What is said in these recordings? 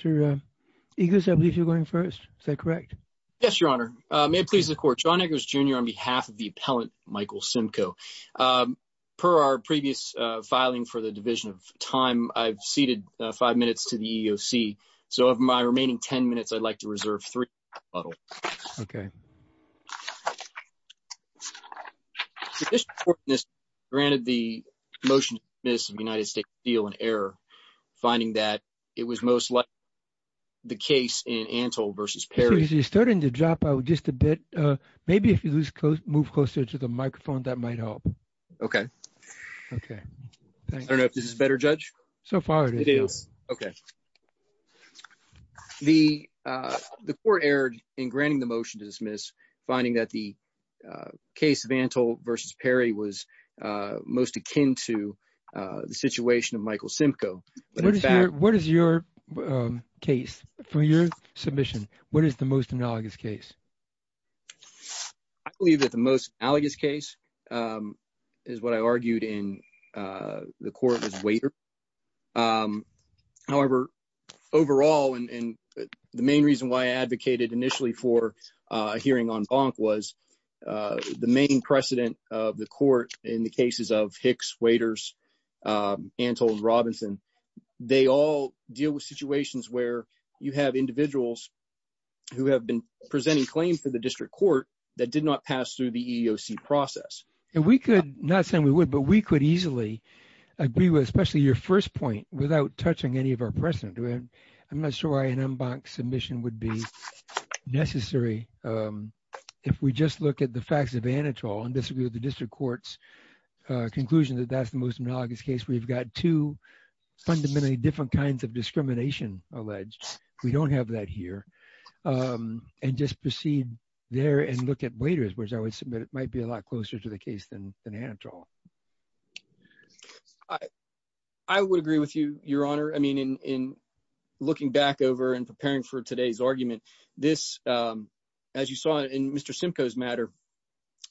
John Eggers, Jr. On behalf of the Appellant Michael Simko, per our previous filing for the Division of Time, I've ceded 5 minutes to the EEOC, so of my remaining 10 minutes, I'd like to reserve 3 minutes for rebuttal. Okay. The Division of Time granted the motion to dismiss the United States Steel in error, finding that it was most likely the case in Antle v. Perry. You're starting to drop out just a bit. Maybe if you move closer to the microphone, that might help. Okay. Okay. I don't know if this is better, Judge? So far, it is. It is. Okay. The court erred in granting the motion to dismiss, finding that the case of Antle v. Perry was most akin to the situation of Michael Simko. What is your case? From your submission, what is the most analogous case? I believe that the most analogous case is what I argued in the court as waiter. However, overall, and the main reason why I advocated initially for a hearing on Bonk was the main precedent of the court in the cases of Hicks, Waiters, Antle, and Robinson, they all deal with situations where you have individuals who have been presenting claims to the district court that did not pass through the EEOC process. Not saying we would, but we could easily agree with, especially your first point, without touching any of our precedent. I'm not sure why an en banc submission would be necessary if we just look at the facts of Antle and disagree with the district court's conclusion that that's the most analogous case. We've got two fundamentally different kinds of discrimination alleged. We don't have that here. And just proceed there and look at Waiters, which I would submit it might be a lot closer to the case than Antle. I would agree with you, Your Honor. I mean, in looking back over and preparing for today's argument, this, as you saw in Mr. Simko's matter,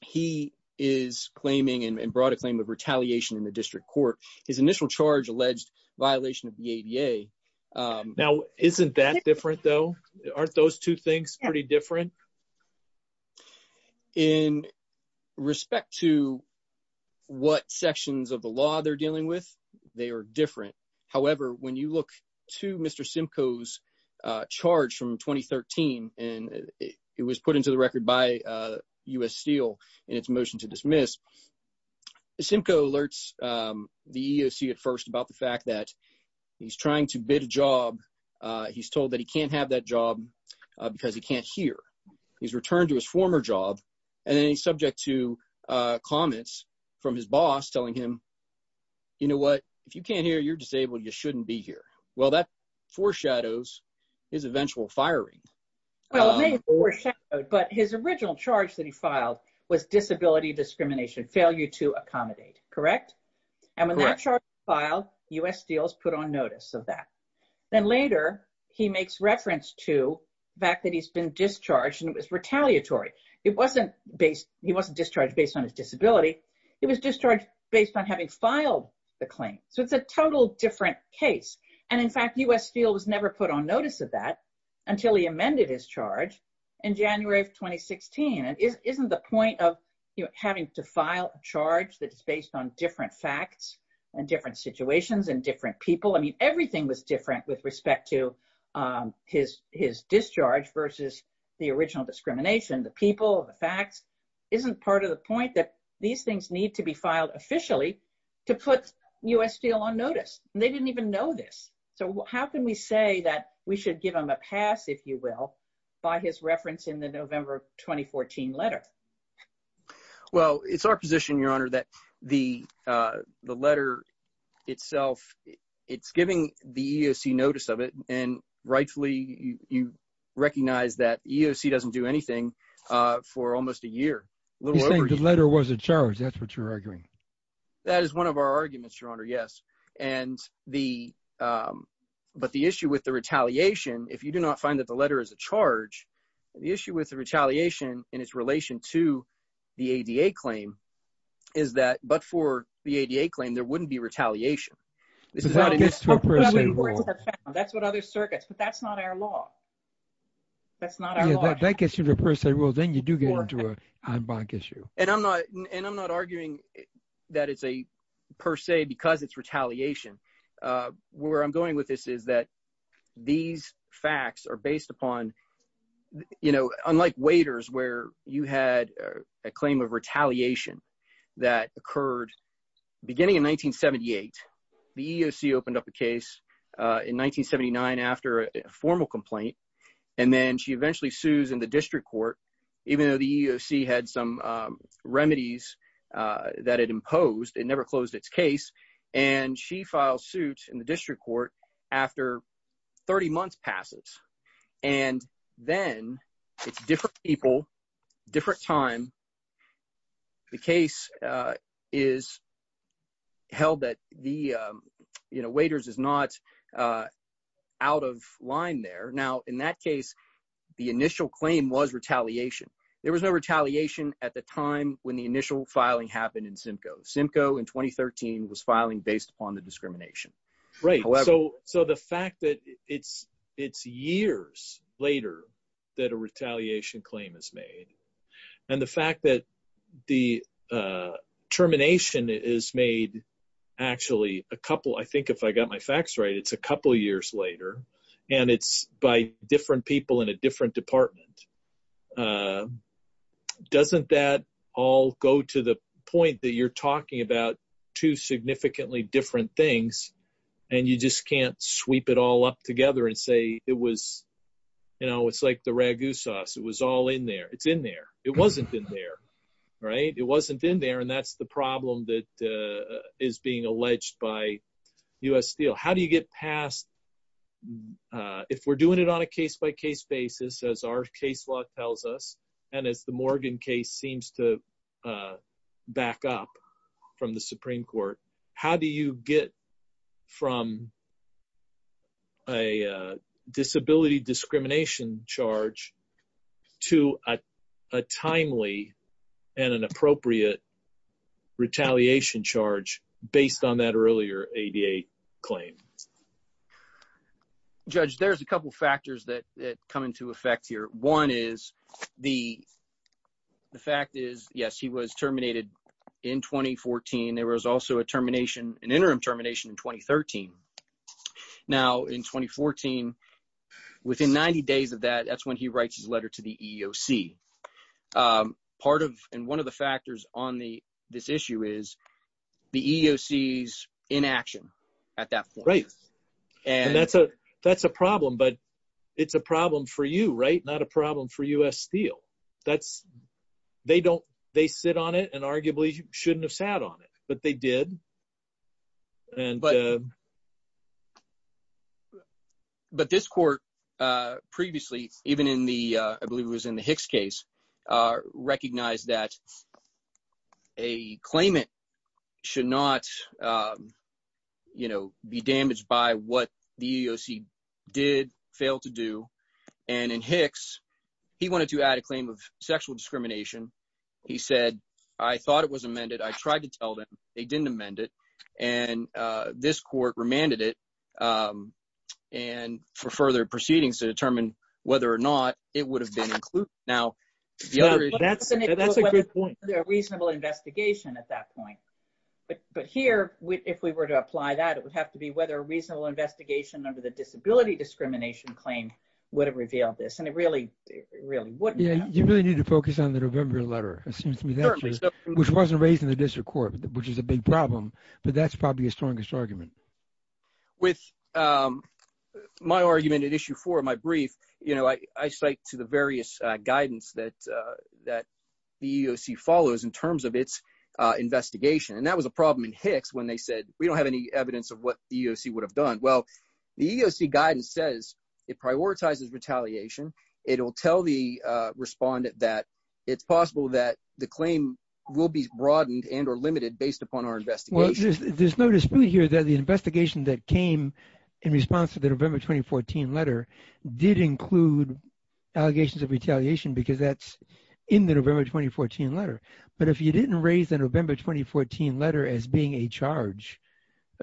he is claiming and brought a claim of retaliation in the district court. His initial charge alleged violation of the ADA. Now, isn't that different though? Aren't those two things pretty different? In respect to what sections of the law they're dealing with, they are different. However, when you look to Mr. Simko's charge from 2013, and it was put into the record by U.S. Steel in its motion to dismiss, Simko alerts the EEOC at first about the fact that he's trying to bid a job. He's told that he can't have that job because he can't hear. He's returned to his former job, and then he's subject to comments from his boss telling him, you know what? If you can't hear, you're disabled. You shouldn't be here. Well, that foreshadows his eventual firing. Well, it may have foreshadowed, but his original charge that he filed was disability discrimination, failure to accommodate. Correct? Correct. U.S. Steel's put on notice of that. Then later, he makes reference to the fact that he's been discharged and it was retaliatory. He wasn't discharged based on his disability. He was discharged based on having filed the claim. So, it's a total different case. And in fact, U.S. Steel was never put on notice of that until he amended his charge in January of 2016. Isn't the point of having to file a charge that is based on different facts and different situations and different people? I mean, everything was different with respect to his discharge versus the original discrimination, the people, the facts. Isn't part of the point that these things need to be filed officially to put U.S. Steel on notice? They didn't even know this. So, how can we say that we should give him a pass, if you will, by his reference in the November 2014 letter? Well, it's our position, Your Honor, that the letter itself, it's giving the EEOC notice of it. And rightfully, you recognize that EEOC doesn't do anything for almost a year. He's saying the letter was a charge. That's what you're arguing. That is one of our arguments, Your Honor, yes. And the – but the issue with the retaliation, if you do not find that the letter is a charge, the issue with the retaliation in its relation to the ADA claim is that – but for the ADA claim, there wouldn't be retaliation. This is not an – That gets to a per se rule. That's what other circuits – but that's not our law. That's not our law. That gets you to a per se rule. Then you do get into an en banc issue. And I'm not arguing that it's a per se because it's retaliation. Where I'm going with this is that these facts are based upon – unlike waiters where you had a claim of retaliation that occurred beginning in 1978. The EEOC opened up a case in 1979 after a formal complaint, and then she eventually sues in the district court even though the EEOC had some remedies that it imposed. It never closed its case, and she files suit in the district court after 30 months passes. And then it's different people, different time. The case is held that the waiters is not out of line there. Now, in that case, the initial claim was retaliation. There was no retaliation at the time when the initial filing happened in Simcoe. Simcoe in 2013 was filing based upon the discrimination. Right, so the fact that it's years later that a retaliation claim is made and the fact that the termination is made actually a couple – I think if I got my facts right, it's a couple years later. And it's by different people in a different department. Doesn't that all go to the point that you're talking about two significantly different things, and you just can't sweep it all up together and say it was – you know, it's like the ragu sauce. It was all in there. It's in there. It wasn't in there, right? It wasn't in there, and that's the problem that is being alleged by U.S. Steel. How do you get past – if we're doing it on a case-by-case basis, as our case law tells us, and as the Morgan case seems to back up from the Supreme Court, How do you get from a disability discrimination charge to a timely and an appropriate retaliation charge based on that earlier ADA claim? Judge, there's a couple factors that come into effect here. One is the fact is, yes, he was terminated in 2014. There was also a termination, an interim termination in 2013. Now, in 2014, within 90 days of that, that's when he writes his letter to the EEOC. Part of and one of the factors on this issue is the EEOC's inaction at that point. Right, and that's a problem, but it's a problem for you, right? Not a problem for U.S. Steel. They sit on it and arguably shouldn't have sat on it, but they did. But this court previously, even in the – I believe it was in the Hicks case, recognized that a claimant should not be damaged by what the EEOC did fail to do. And in Hicks, he wanted to add a claim of sexual discrimination. He said, I thought it was amended. I tried to tell them. They didn't amend it. And this court remanded it. And for further proceedings to determine whether or not it would have been included. Now, that's a good point. A reasonable investigation at that point. But here, if we were to apply that, it would have to be whether a reasonable investigation under the disability discrimination claim would have revealed this. And it really wouldn't have. You really need to focus on the November letter, it seems to me, which wasn't raised in the district court, which is a big problem. But that's probably your strongest argument. With my argument at issue four of my brief, I cite to the various guidance that the EEOC follows in terms of its investigation. And that was a problem in Hicks when they said we don't have any evidence of what the EEOC would have done. Well, the EEOC guidance says it prioritizes retaliation. It will tell the respondent that it's possible that the claim will be broadened and or limited based upon our investigation. There's no dispute here that the investigation that came in response to the November 2014 letter did include allegations of retaliation because that's in the November 2014 letter. But if you didn't raise the November 2014 letter as being a charge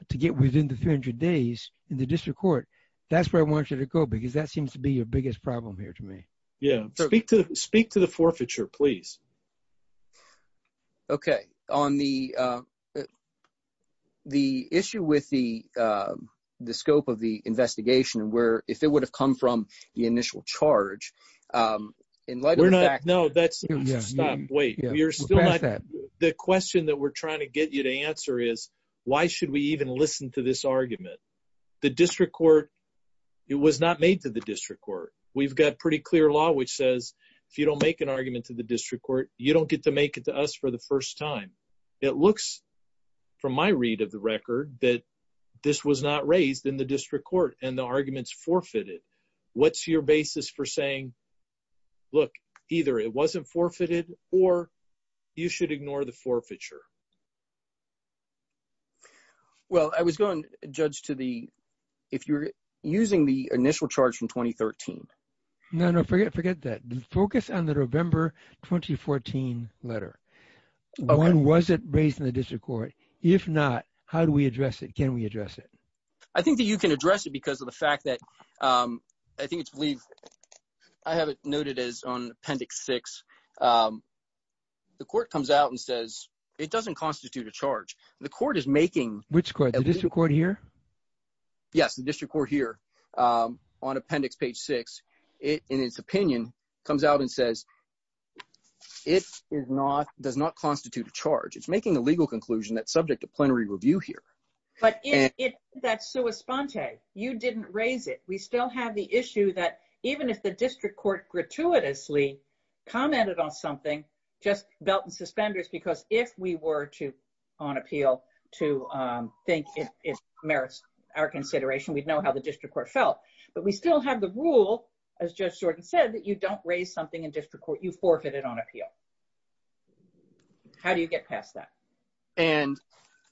to get within the 300 days in the district court, that's where I want you to go because that seems to be your biggest problem here to me. Yeah, speak to the forfeiture, please. Okay. On the issue with the scope of the investigation and where – if it would have come from the initial charge, in light of the fact – No, that's – stop. Wait. You're still not – the question that we're trying to get you to answer is why should we even listen to this argument? The district court – it was not made to the district court. We've got pretty clear law which says if you don't make an argument to the district court, you don't get to make it to us for the first time. It looks from my read of the record that this was not raised in the district court, and the argument is forfeited. What's your basis for saying, look, either it wasn't forfeited or you should ignore the forfeiture? Well, I was going to judge to the – if you're using the initial charge from 2013. No, no. Forget that. Focus on the November 2014 letter. When was it raised in the district court? If not, how do we address it? Can we address it? I think that you can address it because of the fact that – I think it's – I have it noted as on Appendix 6. The court comes out and says it doesn't constitute a charge. The court is making – Which court? The district court here? Yes, the district court here on Appendix page 6, in its opinion, comes out and says it is not – does not constitute a charge. It's making a legal conclusion that's subject to plenary review here. But it – that's sua sponte. You didn't raise it. We still have the issue that even if the district court gratuitously commented on something, just belt and suspenders, because if we were to – on appeal to think it merits our consideration, we'd know how the district court felt. But we still have the rule, as Judge Jordan said, that you don't raise something in district court. You forfeit it on appeal. How do you get past that? And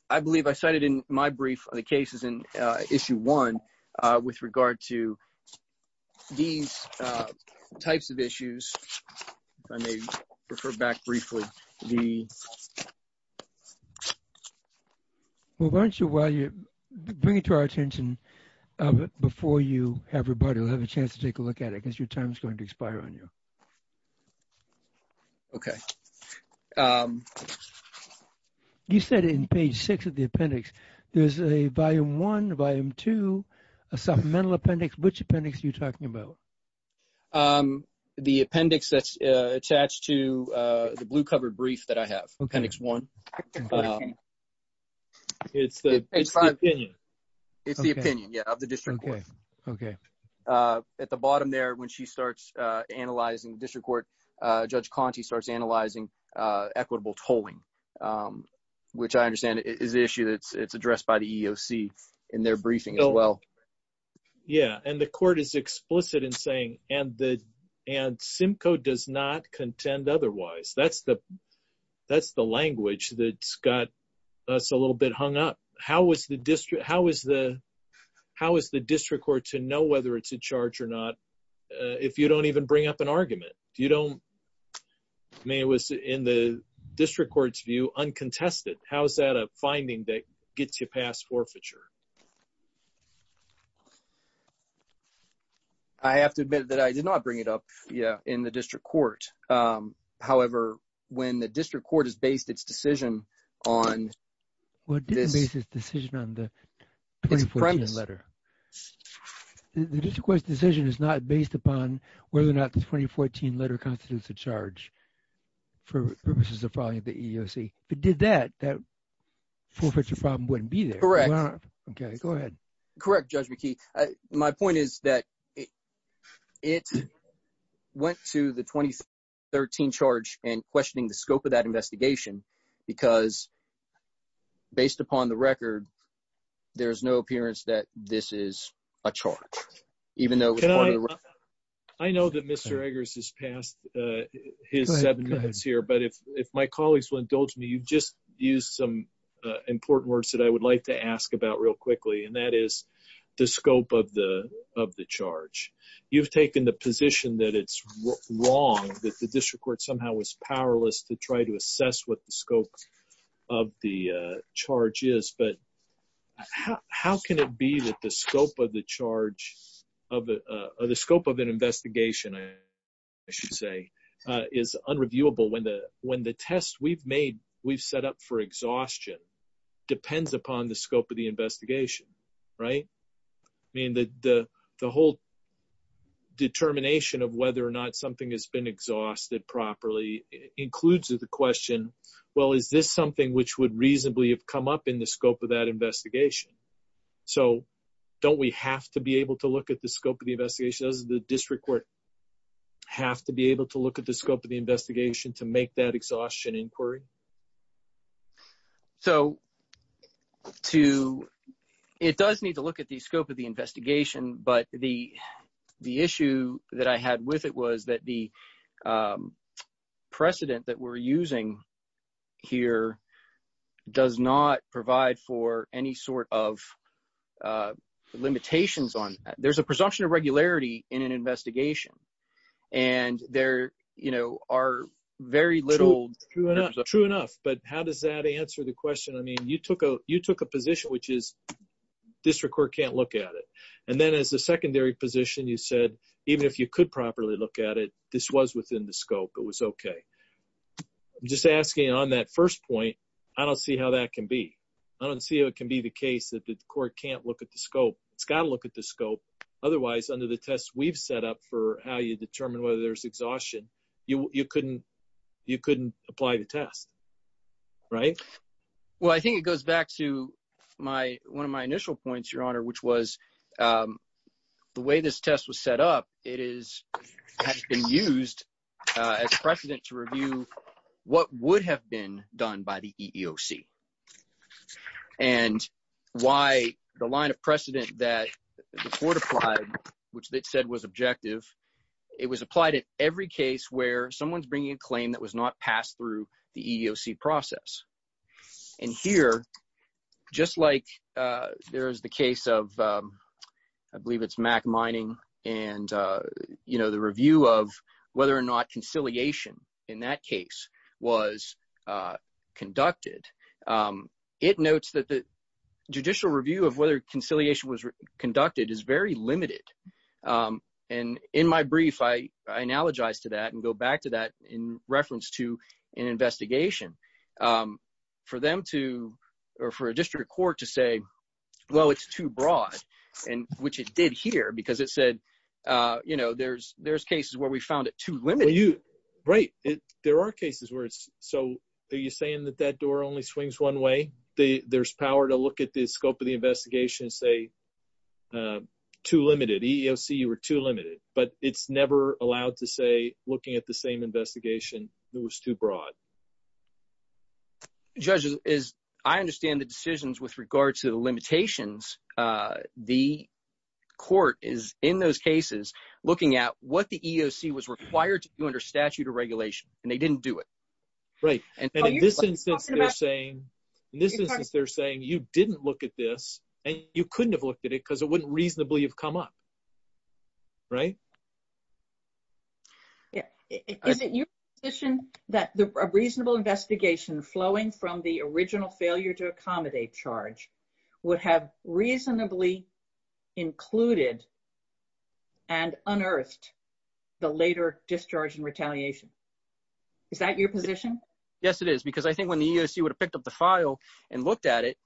I believe I cited in my brief the cases in Issue 1 with regard to these types of issues. If I may refer back briefly, the – Why don't you – bring it to our attention before you – everybody will have a chance to take a look at it because your time is going to expire on you. Okay. You said in page 6 of the appendix, there's a volume 1, volume 2, a supplemental appendix. Which appendix are you talking about? The appendix that's attached to the blue-covered brief that I have, Appendix 1. It's the opinion. It's the opinion, yeah, of the district court. Okay. At the bottom there, when she starts analyzing district court, Judge Conte starts analyzing equitable tolling, which I understand is the issue that's addressed by the EEOC in their briefing as well. Yeah, and the court is explicit in saying, and Simcoe does not contend otherwise. That's the language that's got us a little bit hung up. How is the district court to know whether it's in charge or not if you don't even bring up an argument? You don't – I mean, it was, in the district court's view, uncontested. How is that a finding that gets you past forfeiture? I have to admit that I did not bring it up in the district court. However, when the district court has based its decision on this premise. Well, it didn't base its decision on the 2014 letter. The district court's decision is not based upon whether or not the 2014 letter constitutes a charge for purposes of filing at the EEOC. If it did that, that forfeiture problem wouldn't be there. Correct. Okay, go ahead. Correct, Judge McKee. My point is that it went to the 2013 charge in questioning the scope of that investigation because, based upon the record, there is no appearance that this is a charge, even though it was part of the record. I know that Mr. Eggers has passed his seven minutes here. But if my colleagues will indulge me, you just used some important words that I would like to ask about real quickly. And that is the scope of the charge. You've taken the position that it's wrong, that the district court somehow was powerless to try to assess what the scope of the charge is. But how can it be that the scope of an investigation, I should say, is unreviewable when the test we've set up for exhaustion depends upon the scope of the investigation, right? I mean, the whole determination of whether or not something has been exhausted properly includes the question, well, is this something which would reasonably have come up in the scope of that investigation? So don't we have to be able to look at the scope of the investigation? Doesn't the district court have to be able to look at the scope of the investigation to make that exhaustion inquiry? So to – it does need to look at the scope of the investigation, but the issue that I had with it was that the precedent that we're using here does not provide for any sort of limitations on – there's a presumption of regularity in an investigation. And there are very little – True enough, but how does that answer the question? I mean, you took a position which is district court can't look at it. And then as a secondary position, you said even if you could properly look at it, this was within the scope, it was okay. I'm just asking on that first point, I don't see how that can be. I don't see how it can be the case that the court can't look at the scope. It's got to look at the scope. Otherwise, under the test we've set up for how you determine whether there's exhaustion, you couldn't apply the test, right? Well, I think it goes back to my – one of my initial points, Your Honor, which was the way this test was set up, it has been used as precedent to review what would have been done by the EEOC. And why the line of precedent that the court applied, which they said was objective, it was applied at every case where someone is bringing a claim that was not passed through the EEOC process. And here, just like there is the case of – I believe it's Mack Mining and the review of whether or not conciliation in that case was conducted, it notes that the judicial review of whether conciliation was conducted is very limited. And in my brief, I analogize to that and go back to that in reference to an investigation. For them to – or for a district court to say, well, it's too broad, which it did here because it said there's cases where we found it too limited. Right. There are cases where it's – so are you saying that that door only swings one way? There's power to look at the scope of the investigation and say too limited. EEOC, you were too limited. But it's never allowed to say, looking at the same investigation, it was too broad. Judges, as I understand the decisions with regard to the limitations, the court is, in those cases, looking at what the EEOC was required to do under statute or regulation, and they didn't do it. Right. And in this instance, they're saying, you didn't look at this, and you couldn't have looked at it because it wouldn't reasonably have come up. Right? Is it your position that a reasonable investigation flowing from the original failure to accommodate charge would have reasonably included and unearthed the later discharge and retaliation? Is that your position? Yes, it is because I think when the EEOC would have picked up the file and looked at it,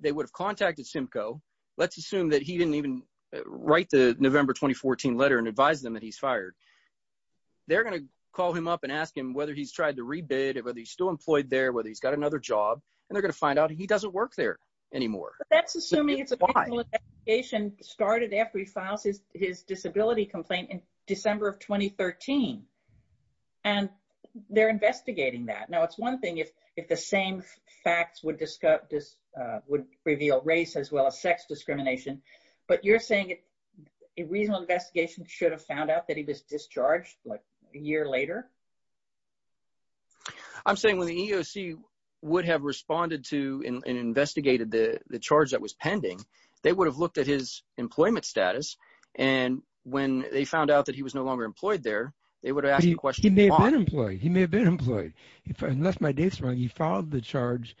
they would have contacted Simcoe. Let's assume that he didn't even write the November 2014 letter and advise them that he's fired. They're going to call him up and ask him whether he's tried to rebid or whether he's still employed there, whether he's got another job, and they're going to find out he doesn't work there anymore. But that's assuming it's a reasonable investigation started after he files his disability complaint in December of 2013, and they're investigating that. Now, it's one thing if the same facts would reveal race as well as sex discrimination, but you're saying a reasonable investigation should have found out that he was discharged a year later? I'm saying when the EEOC would have responded to and investigated the charge that was pending, they would have looked at his employment status, and when they found out that he was no longer employed there, they would have asked the question why. He may have been employed. He may have been employed. Unless my dates are wrong, he filed the charge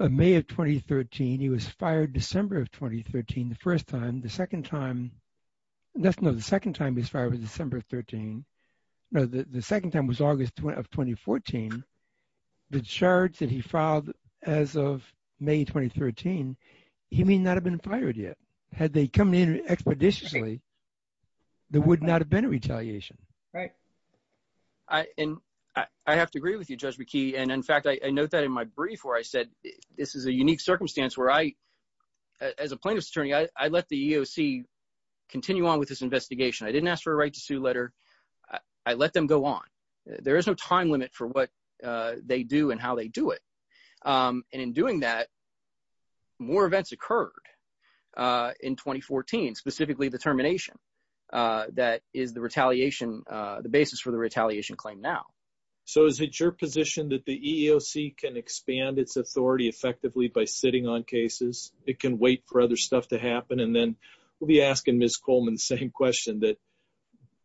in May of 2013. He was fired December of 2013 the first time. The second time – no, the second time he was fired was December of 13 – no, the second time was August of 2014. The charge that he filed as of May 2013, he may not have been fired yet. Had they come in expeditiously, there would not have been a retaliation. And I have to agree with you, Judge McKee, and in fact, I note that in my brief where I said this is a unique circumstance where I – as a plaintiff's attorney, I let the EEOC continue on with this investigation. I didn't ask for a right to sue letter. I let them go on. There is no time limit for what they do and how they do it. And in doing that, more events occurred in 2014, specifically the termination that is the retaliation – the basis for the retaliation claim now. So is it your position that the EEOC can expand its authority effectively by sitting on cases? It can wait for other stuff to happen? And then we'll be asking Ms. Coleman the same question that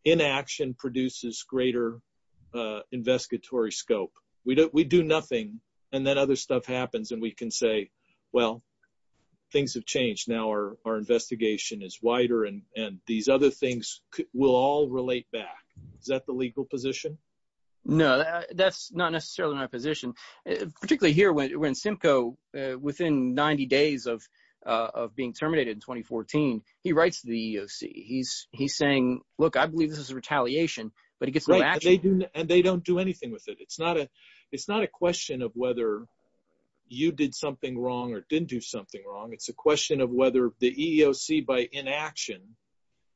inaction produces greater investigatory scope. We do nothing and then other stuff happens and we can say, well, things have changed. Now our investigation is wider and these other things will all relate back. Is that the legal position? No, that's not necessarily my position, particularly here when Simcoe, within 90 days of being terminated in 2014, he writes to the EEOC. He's saying, look, I believe this is a retaliation, but he gets no action. And they don't do anything with it. It's not a question of whether you did something wrong or didn't do something wrong. It's a question of whether the EEOC by inaction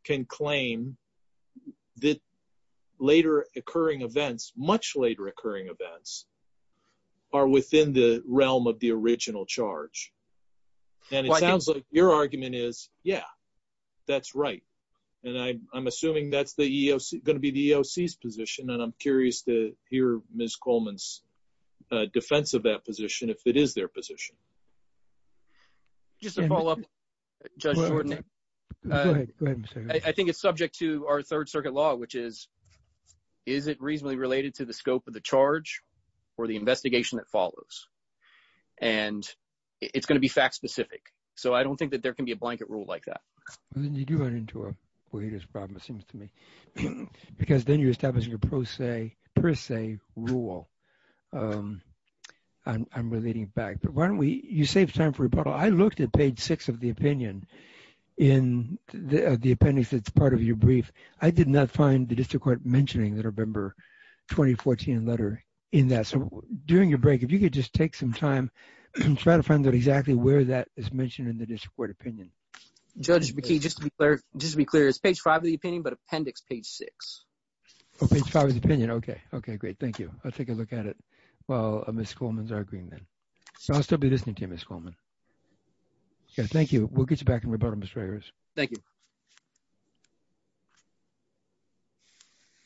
can claim that later occurring events, much later occurring events, are within the realm of the original charge. And it sounds like your argument is, yeah, that's right. And I'm assuming that's going to be the EEOC's position, and I'm curious to hear Ms. Coleman's defense of that position if it is their position. Just to follow up, Judge Jordan. I think it's subject to our Third Circuit law, which is, is it reasonably related to the scope of the charge or the investigation that follows? And it's going to be fact-specific, so I don't think that there can be a blanket rule like that. Well, then you do run into a weightless problem, it seems to me, because then you're establishing a per se rule. I'm relating it back. But why don't we – you saved time for rebuttal. I looked at page 6 of the opinion in the appendix that's part of your brief. I did not find the district court mentioning the November 2014 letter in that. So during your break, if you could just take some time and try to find out exactly where that is mentioned in the district court opinion. Judge McKee, just to be clear, it's page 5 of the opinion, but appendix page 6. Oh, page 5 of the opinion. Okay. Okay, great. Thank you. I'll take a look at it while Ms. Coleman's arguing then. I'll still be listening to you, Ms. Coleman. Okay, thank you. We'll get you back in rebuttal, Ms. Regers. Thank you.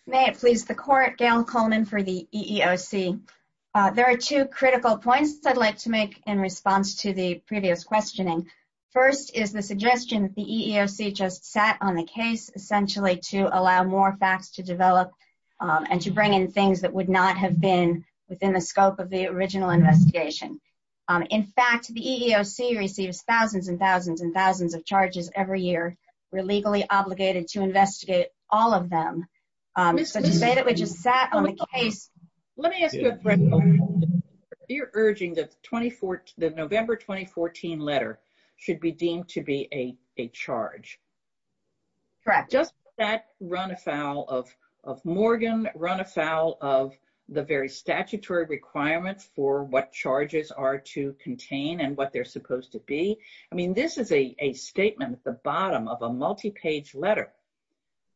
May it please the court, Gail Coleman for the EEOC. There are two critical points I'd like to make in response to the previous questioning. First is the suggestion that the EEOC just sat on the case essentially to allow more facts to develop and to bring in things that would not have been within the scope of the original investigation. In fact, the EEOC receives thousands and thousands and thousands of charges every year. We're legally obligated to investigate all of them. Let me ask you a question. You're urging that the November 2014 letter should be deemed to be a charge. Correct. Does that run afoul of Morgan, run afoul of the very statutory requirements for what charges are to contain and what they're supposed to be? I mean, this is a statement at the bottom of a multi-page letter.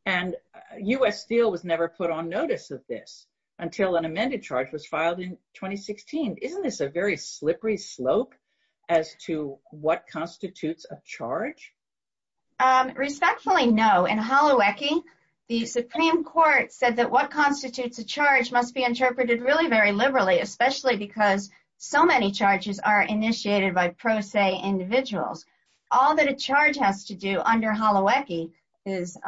And U.S. Steel was never put on notice of this until an amended charge was filed in 2016. Isn't this a very slippery slope as to what constitutes a charge? Respectfully, no. In Holowecki, the Supreme Court said that what constitutes a charge must be interpreted really very liberally, especially because so many charges are initiated by pro se individuals. All that a charge has to do under Holowecki is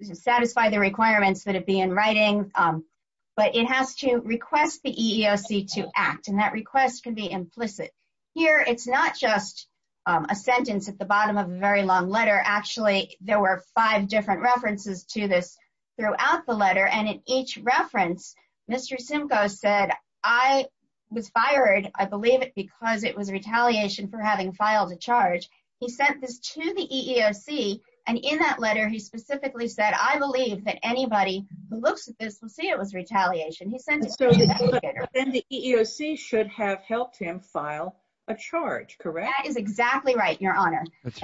satisfy the requirements that it be in writing, but it has to request the EEOC to act. And that request can be implicit. Here, it's not just a sentence at the bottom of a very long letter. Actually, there were five different references to this throughout the letter. And in each reference, Mr. Simcoe said, I was fired, I believe it because it was retaliation for having filed a charge. He sent this to the EEOC. And in that letter, he specifically said, I believe that anybody who looks at this will see it was retaliation. Then the EEOC should have helped him file a charge, correct? That is exactly right, Your Honor. But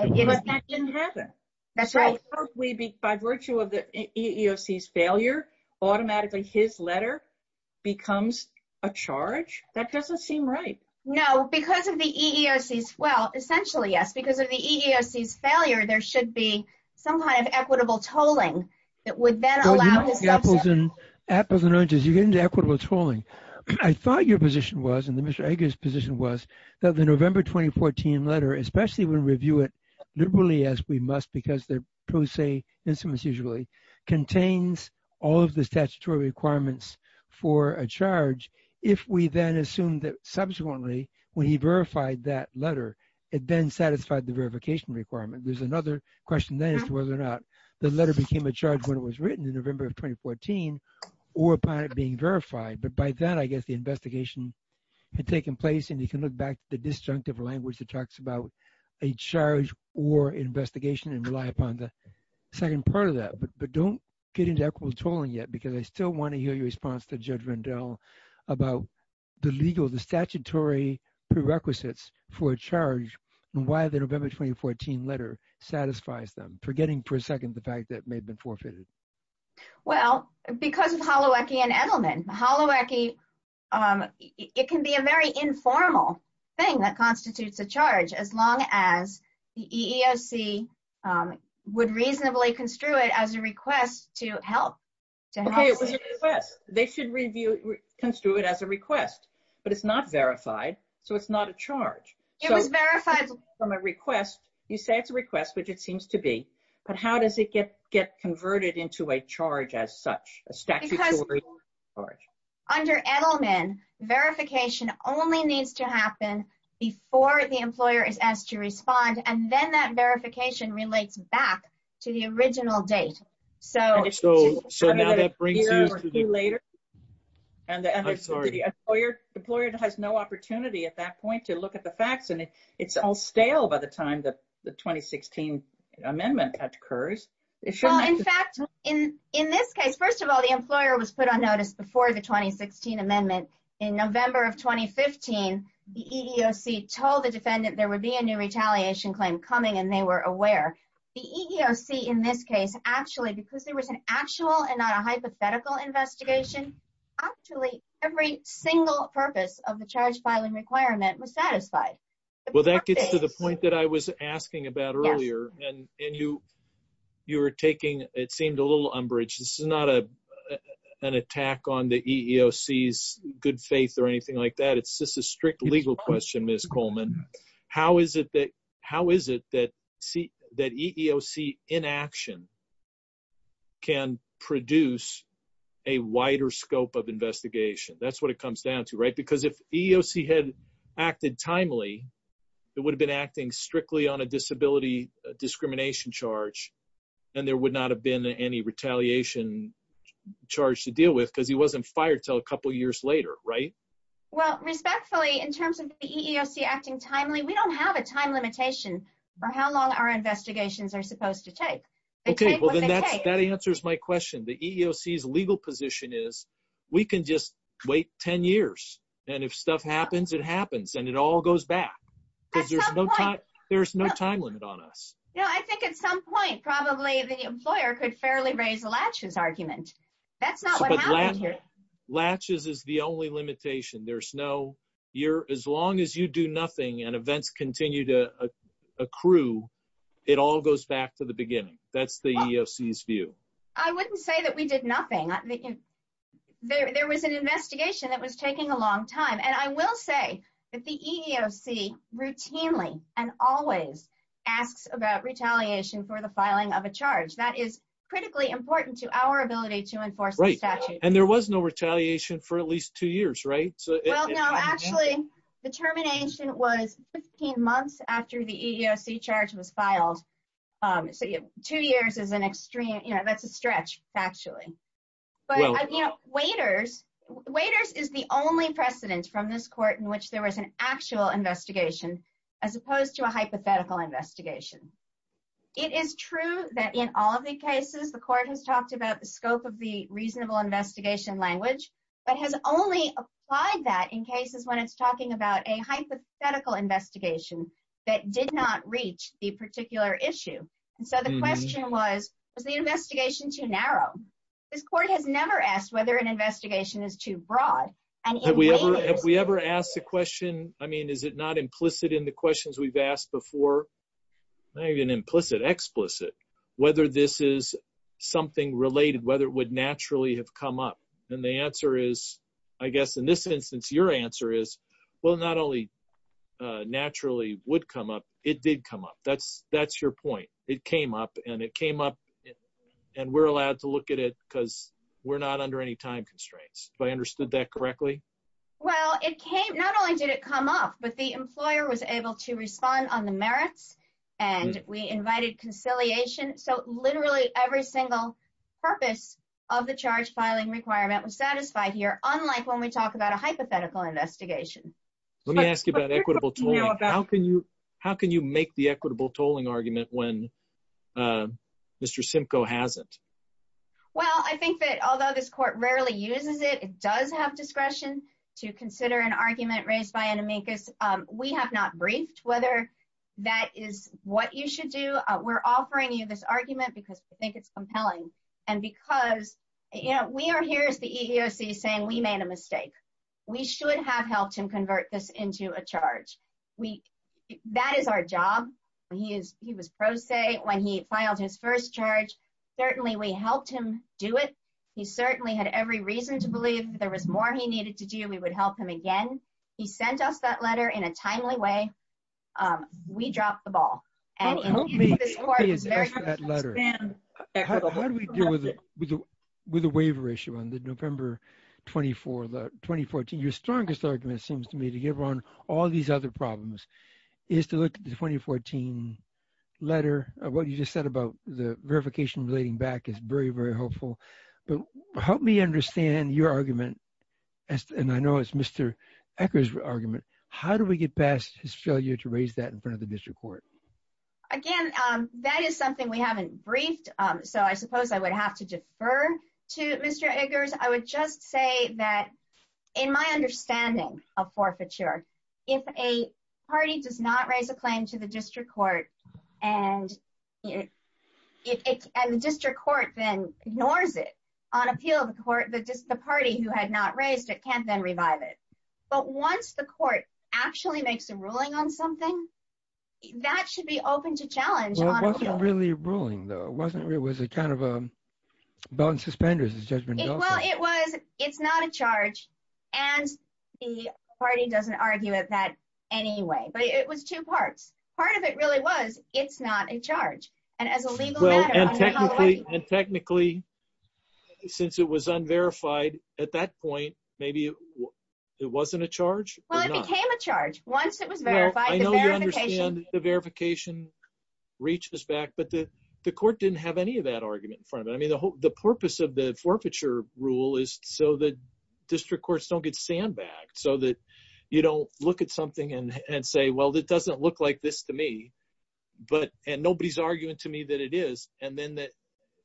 that didn't happen. That's right. By virtue of the EEOC's failure, automatically his letter becomes a charge? That doesn't seem right. No. Because of the EEOC's, well, essentially, yes. Because of the EEOC's failure, there should be some kind of equitable tolling that would then allow his... Apples and oranges. You're getting to equitable tolling. I thought your position was, and Mr. Edgar's position was, that the November 2014 letter, especially when we review it liberally, as we must, because they're pro se, contains all of the statutory requirements for a charge if we then assume that subsequently, when he verified that letter, it then satisfied the verification requirement. There's another question then as to whether or not the letter became a charge when it was written in November of 2014 or upon it being verified. But by that, I guess the investigation had taken place. And you can look back at the disjunctive language that talks about a charge or investigation and rely upon the second part of that. But don't get into equitable tolling yet because I still want to hear your response to Judge Rendell about the legal, the statutory prerequisites for a charge and why the November 2014 letter satisfies them. Forgetting for a second the fact that it may have been forfeited. Well, because of Holowecki and Edelman. Holowecki, it can be a very informal thing that constitutes a charge as long as the EEOC would reasonably construe it as a request to help. Okay, it was a request. They should review, construe it as a request. But it's not verified, so it's not a charge. It was verified from a request. You say it's a request, which it seems to be. But how does it get converted into a charge as such, a statutory charge? Because under Edelman, verification only needs to happen before the employer is asked to respond. And then that verification relates back to the original date. So now that brings you to the... I'm sorry. The employer has no opportunity at that point to look at the facts, and it's all stale by the time the 2016 amendment occurs. Well, in fact, in this case, first of all, the employer was put on notice before the 2016 amendment. In November of 2015, the EEOC told the defendant there would be a new retaliation claim coming, and they were aware. The EEOC in this case, actually, because there was an actual and not a hypothetical investigation, actually every single purpose of the charge filing requirement was satisfied. Well, that gets to the point that I was asking about earlier, and you were taking, it seemed, a little umbrage. This is not an attack on the EEOC's good faith or anything like that. It's just a strict legal question, Ms. Coleman. How is it that EEOC inaction can produce a wider scope of investigation? That's what it comes down to, right? Because if EEOC had acted timely, it would have been acting strictly on a disability discrimination charge, and there would not have been any retaliation charge to deal with because he wasn't fired until a couple years later, right? Well, respectfully, in terms of the EEOC acting timely, we don't have a time limitation for how long our investigations are supposed to take. Okay, well then that answers my question. The EEOC's legal position is we can just wait 10 years, and if stuff happens, it happens, and it all goes back. Because there's no time limit on us. No, I think at some point, probably, the employer could fairly raise Latch's argument. That's not what happened here. Latch's is the only limitation. As long as you do nothing and events continue to accrue, it all goes back to the beginning. That's the EEOC's view. I wouldn't say that we did nothing. There was an investigation that was taking a long time. And I will say that the EEOC routinely and always asks about retaliation for the filing of a charge. That is critically important to our ability to enforce the statute. And there was no retaliation for at least two years, right? Well, no, actually, the termination was 15 months after the EEOC charge was filed. So two years is an extreme, you know, that's a stretch, factually. Waiters is the only precedent from this court in which there was an actual investigation as opposed to a hypothetical investigation. It is true that in all of the cases, the court has talked about the scope of the reasonable investigation language, but has only applied that in cases when it's talking about a hypothetical investigation that did not reach the particular issue. And so the question was, was the investigation too narrow? This court has never asked whether an investigation is too broad. Have we ever asked the question, I mean, is it not implicit in the questions we've asked before? Not even implicit, explicit, whether this is something related, whether it would naturally have come up. And the answer is, I guess, in this instance, your answer is, well, not only naturally would come up, it did come up. That's your point. It came up, and it came up, and we're allowed to look at it because we're not under any time constraints. If I understood that correctly. Well, it came, not only did it come up, but the employer was able to respond on the merits, and we invited conciliation. So literally every single purpose of the charge filing requirement was satisfied here, unlike when we talk about a hypothetical investigation. Let me ask you about equitable tolling. How can you make the equitable tolling argument when Mr. Simcoe hasn't? Well, I think that although this court rarely uses it, it does have discretion to consider an argument raised by an amicus. We have not briefed whether that is what you should do. We're offering you this argument because we think it's compelling. And because, you know, we are here as the EEOC saying we made a mistake. We should have helped him convert this into a charge. That is our job. He was pro se when he filed his first charge. Certainly we helped him do it. He certainly had every reason to believe if there was more he needed to do, we would help him again. He sent us that letter in a timely way. We dropped the ball. How do we deal with the waiver issue on the November 24, 2014? Your strongest argument seems to me to give on all these other problems is to look at the 2014 letter. What you just said about the verification relating back is very, very helpful. But help me understand your argument. And I know it's Mr. Eggers' argument. How do we get past his failure to raise that in front of the district court? Again, that is something we haven't briefed. So I suppose I would have to defer to Mr. Eggers. I would just say that in my understanding of forfeiture, if a party does not raise a claim to the district court, and the district court then ignores it on appeal of the court, the party who had not raised it can't then revive it. But once the court actually makes a ruling on something, that should be open to challenge on appeal. Well, it wasn't really a ruling, though. It was a kind of a belt and suspenders, as Judge Mendoza said. Well, it's not a charge, and the party doesn't argue with that anyway. But it was two parts. Part of it really was, it's not a charge. And as a legal matter, I'm not going to argue with that. And technically, since it was unverified at that point, maybe it wasn't a charge? Well, it became a charge once it was verified. I know you understand the verification reaches back, but the court didn't have any of that argument in front of it. I mean, the purpose of the forfeiture rule is so that district courts don't get sandbagged, so that you don't look at something and say, well, it doesn't look like this to me, and nobody's arguing to me that it is. And then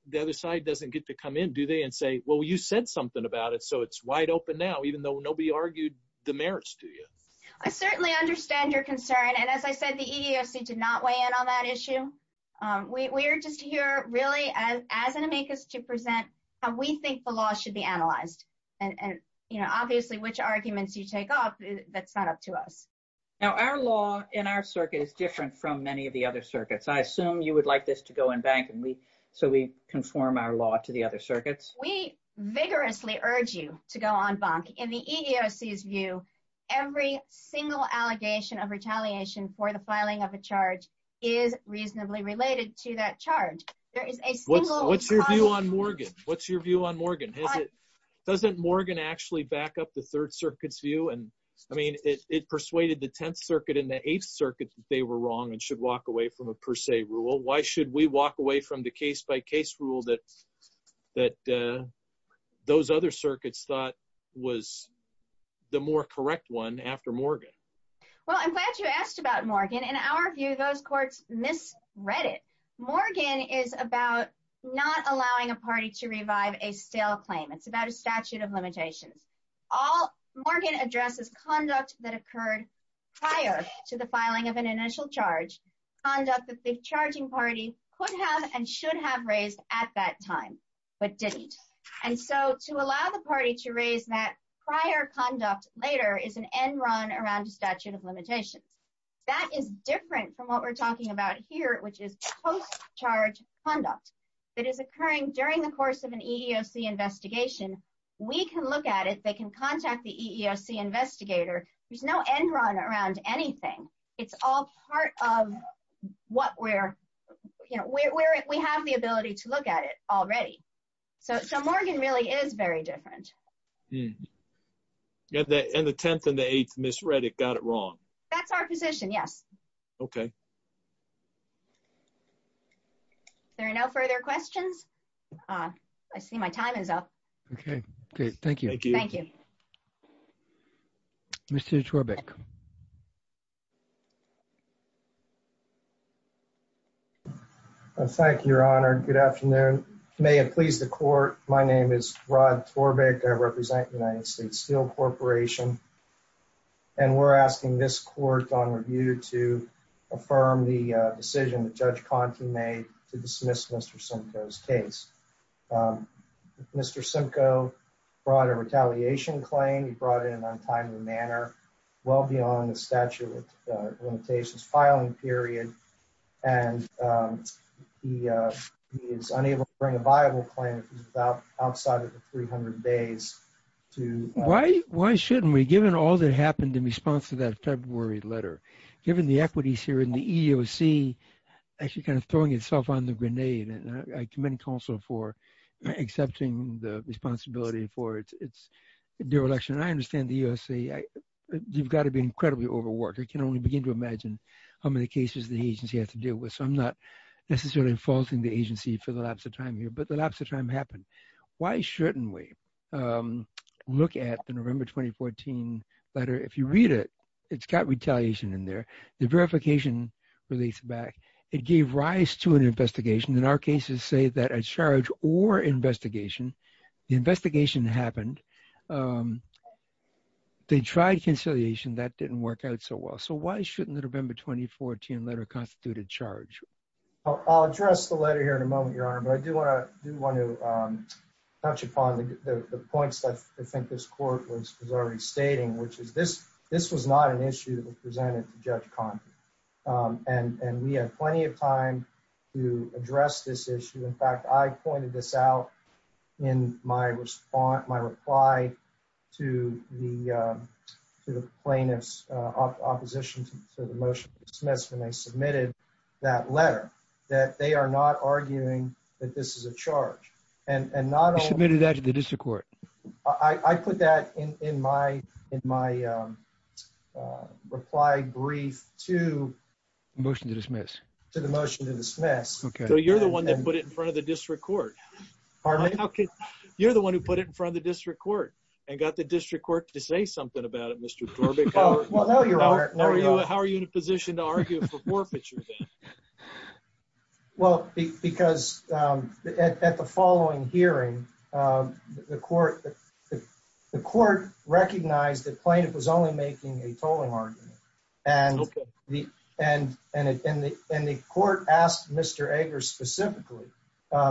the other side doesn't get to come in, do they, and say, well, you said something about it, so it's wide open now, even though nobody argued the merits to you. I certainly understand your concern. And as I said, the EEOC did not weigh in on that issue. We're just here really as an amicus to present how we think the law should be analyzed. And obviously, which arguments you take off, that's not up to us. Now, our law in our circuit is different from many of the other circuits. I assume you would like this to go in bank, so we conform our law to the other circuits. We vigorously urge you to go on bank. In the EEOC's view, every single allegation of retaliation for the filing of a charge is reasonably related to that charge. What's your view on Morgan? Doesn't Morgan actually back up the Third Circuit's view? I mean, it persuaded the Tenth Circuit and the Eighth Circuit that they were wrong and should walk away from a per se rule. Why should we walk away from the case-by-case rule that those other circuits thought was the more correct one after Morgan? Well, I'm glad you asked about Morgan. In our view, those courts misread it. Morgan is about not allowing a party to revive a stale claim. It's about a statute of limitations. Morgan addresses conduct that occurred prior to the filing of an initial charge, conduct that the charging party could have and should have raised at that time, but didn't. And so, to allow the party to raise that prior conduct later is an end run around a statute of limitations. That is different from what we're talking about here, which is post-charge conduct that is occurring during the course of an EEOC investigation. We can look at it. They can contact the EEOC investigator. There's no end run around anything. It's all part of what we're – we have the ability to look at it already. So, Morgan really is very different. And the Tenth and the Eighth misread it, got it wrong. That's our position, yes. Okay. If there are no further questions, I see my time is up. Okay. Thank you. Thank you. Mr. Torbek. Thank you, Your Honor. Good afternoon. May it please the court, my name is Rod Torbek. I represent the United States Steel Corporation. And we're asking this court on review to affirm the decision that Judge Conte made to dismiss Mr. Simcoe's case. Mr. Simcoe brought a retaliation claim. He brought it in an untimely manner, well beyond the statute of limitations filing period. And he is unable to bring a viable claim outside of the 300 days to – Why shouldn't we, given all that happened in response to that February letter, given the equities here in the EEOC, actually kind of throwing itself on the grenade, and I commend counsel for accepting the responsibility for its dereliction. And I understand the EEOC, you've got to be incredibly overworked. I can only begin to imagine how many cases the agency has to deal with. So, I'm not necessarily faulting the agency for the lapse of time here, but the lapse of time happened. Why shouldn't we look at the November 2014 letter? If you read it, it's got retaliation in there. The verification relates back. It gave rise to an investigation. And our cases say that a charge or investigation, the investigation happened. They tried conciliation. That didn't work out so well. So, why shouldn't the November 2014 letter constitute a charge? I'll address the letter here in a moment, Your Honor, but I do want to touch upon the points that I think this court was already stating, which is this was not an issue that was presented to Judge Condon. And we had plenty of time to address this issue. In fact, I pointed this out in my reply to the plaintiff's opposition to the motion to dismiss when they submitted that letter, that they are not arguing that this is a charge. And not only – You submitted that to the district court. I put that in my reply brief to – The motion to dismiss. To the motion to dismiss. Okay. So, you're the one that put it in front of the district court. Pardon me? You're the one who put it in front of the district court and got the district court to say something about it, Mr. Thorpe. How are you in a position to argue for forfeiture then? Well, because at the following hearing, the court recognized the plaintiff was only making a tolling argument. Okay. And the court asked Mr. Ager specifically.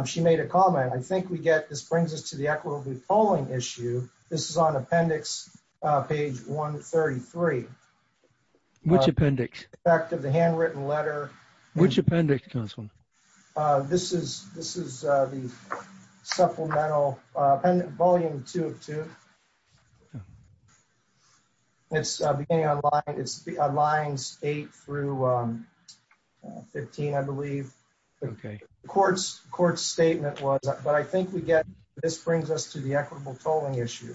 She made a comment. I think we get – this brings us to the equitably tolling issue. This is on appendix page 133. Which appendix? The fact of the handwritten letter. Which appendix, counsel? This is the supplemental – volume 2 of 2. It's beginning on lines 8 through 15, I believe. Okay. The court's statement was – but I think we get – this brings us to the equitable tolling issue.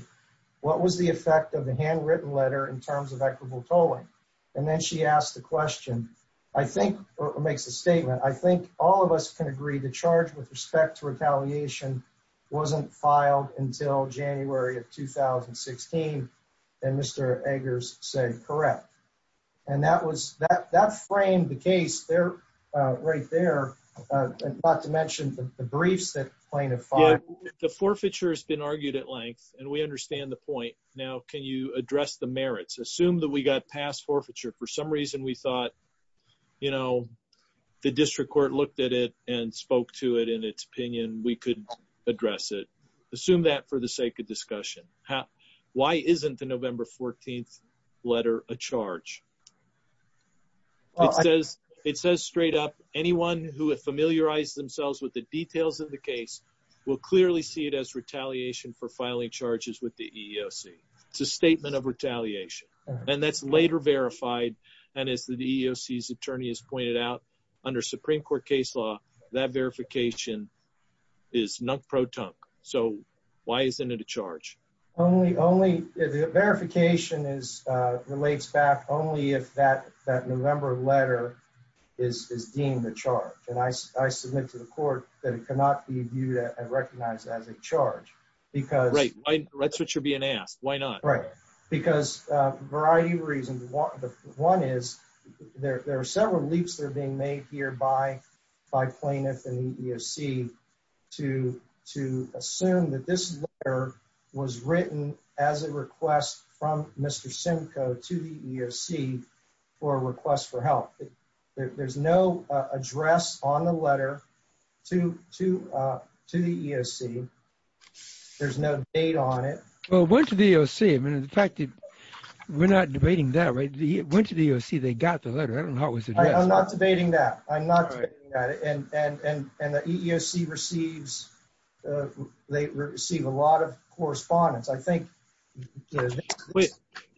What was the effect of the handwritten letter in terms of equitable tolling? And then she asked the question. I think – or makes a statement. I think all of us can agree the charge with respect to retaliation wasn't filed until January of 2016. And Mr. Ager said correct. And that was – that framed the case right there. Not to mention the briefs that the plaintiff filed. The forfeiture has been argued at length, and we understand the point. Now, can you address the merits? Assume that we got past forfeiture. For some reason we thought, you know, the district court looked at it and spoke to it in its opinion. We could address it. Assume that for the sake of discussion. Why isn't the November 14th letter a charge? It says straight up anyone who has familiarized themselves with the details of the case will clearly see it as retaliation for filing charges with the EEOC. It's a statement of retaliation. And that's later verified. And as the EEOC's attorney has pointed out, under Supreme Court case law, that verification is nunk-pro-tunk. So why isn't it a charge? Only – verification is – relates back only if that November letter is deemed a charge. And I submit to the court that it cannot be viewed and recognized as a charge because – Right. That's what you're being asked. Why not? Right. Because a variety of reasons. One is there are several leaps that are being made here by plaintiffs and the EEOC to assume that this letter was written as a request from Mr. Simcoe to the EEOC for a request for help. There's no address on the letter to the EEOC. There's no date on it. Well, it went to the EEOC. I mean, in fact, we're not debating that, right? It went to the EEOC. They got the letter. I don't know how it was addressed. I'm not debating that. I'm not debating that. And the EEOC receives – they receive a lot of correspondence. I think this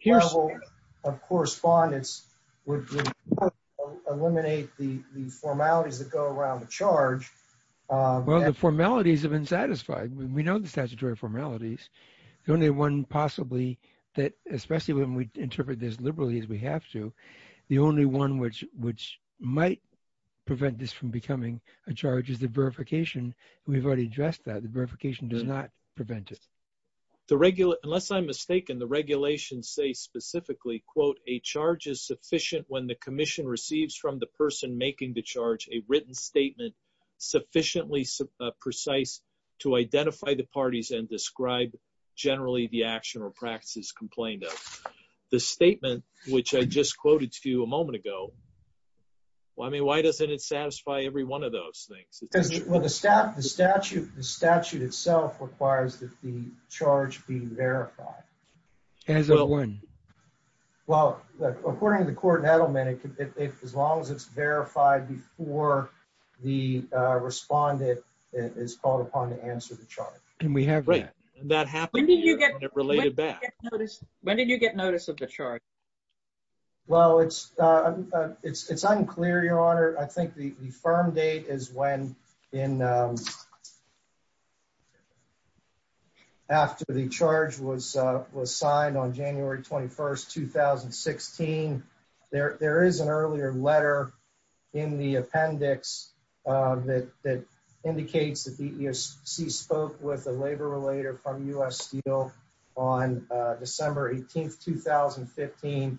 level of correspondence would eliminate the formalities that go around a charge. Well, the formalities have been satisfied. We know the statutory formalities. The only one possibly that – especially when we interpret this liberally as we have to, the only one which might prevent this from becoming a charge is the verification. We've already addressed that. The verification does not prevent it. Unless I'm mistaken, the regulations say specifically, quote, a charge is sufficient when the commission receives from the person making the charge a written statement sufficiently precise to identify the parties and describe generally the action or practices complained of. The statement, which I just quoted to you a moment ago, well, I mean, why doesn't it satisfy every one of those things? Well, the statute itself requires that the charge be verified. As of when? Well, according to the court settlement, as long as it's verified before the respondent is called upon to answer the charge. And we have that. When did you get – when did you get notice of the charge? Well, it's unclear, Your Honor. I think the firm date is when in – after the charge was signed on January 21st, 2016. There is an earlier letter in the appendix that indicates that the EEOC spoke with a labor relator from U.S. Steel on December 18th, 2015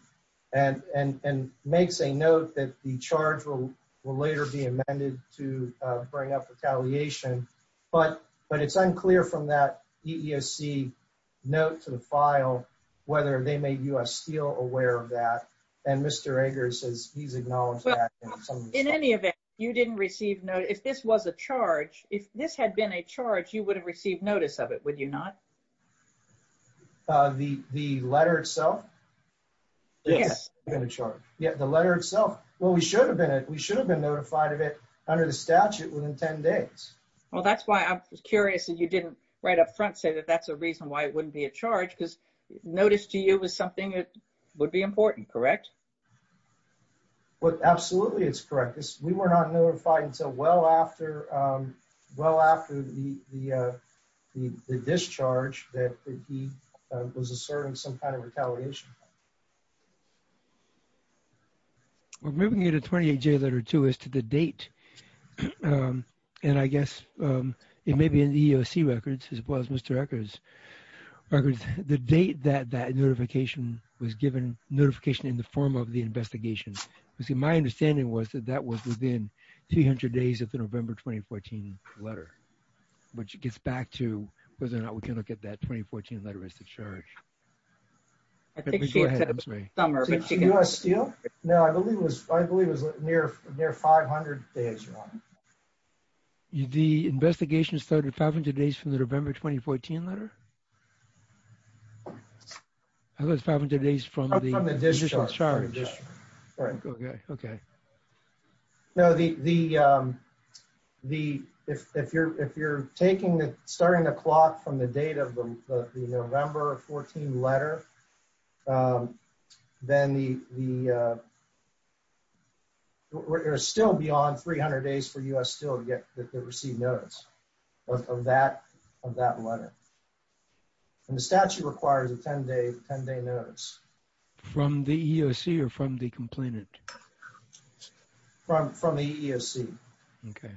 and makes a note that the charge will later be amended to bring up retaliation. But it's unclear from that EEOC note to the file whether they made U.S. Steel aware of that. And Mr. Eggers says he's acknowledged that. In any event, you didn't receive notice – if this was a charge, if this had been a charge, you would have received notice of it, would you not? The letter itself? Yes. Yeah, the letter itself. Well, we should have been – we should have been notified of it under the statute within 10 days. Well, that's why I'm curious that you didn't right up front say that that's a reason why it wouldn't be a charge because notice to you is something that would be important, correct? Well, absolutely it's correct. We were not notified until well after the discharge that he was asserting some kind of retaliation. Well, moving into 28J letter 2 as to the date, and I guess it may be in the EEOC records as well as Mr. Eggers' records, the date that that notification was given notification in the form of the investigation. You see, my understanding was that that was within 300 days of the November 2014 letter, which gets back to whether or not we can look at that 2014 letter as the charge. I think she said summer. No, I believe it was near 500 days, Your Honor. The investigation started 500 days from the November 2014 letter? I thought it was 500 days from the discharge. From the discharge. Okay. No, if you're starting the clock from the date of the November 14 letter, then it's still beyond 300 days for U.S. still to receive notice of that letter. And the statute requires a 10-day notice. From the EEOC or from the complainant? From the EEOC. Okay.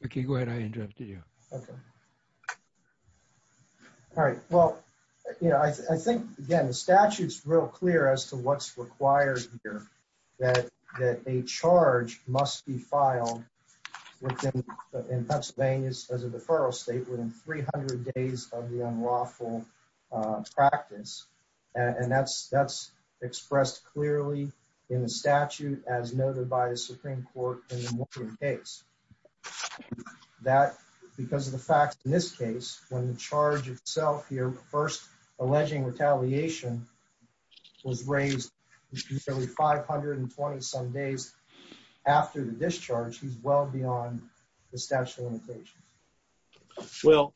Ricky, go ahead. I interrupted you. Okay. All right. Well, you know, I think, again, the statute's real clear as to what's required here, that a charge must be filed in Pennsylvania as a deferral state within 300 days of the unlawful practice. And that's expressed clearly in the statute as noted by the Supreme Court in the Morgan case. That, because of the fact, in this case, when the charge itself here, first alleging retaliation, was raised at least 520-some days after the discharge, is well beyond the statute of limitations. Well,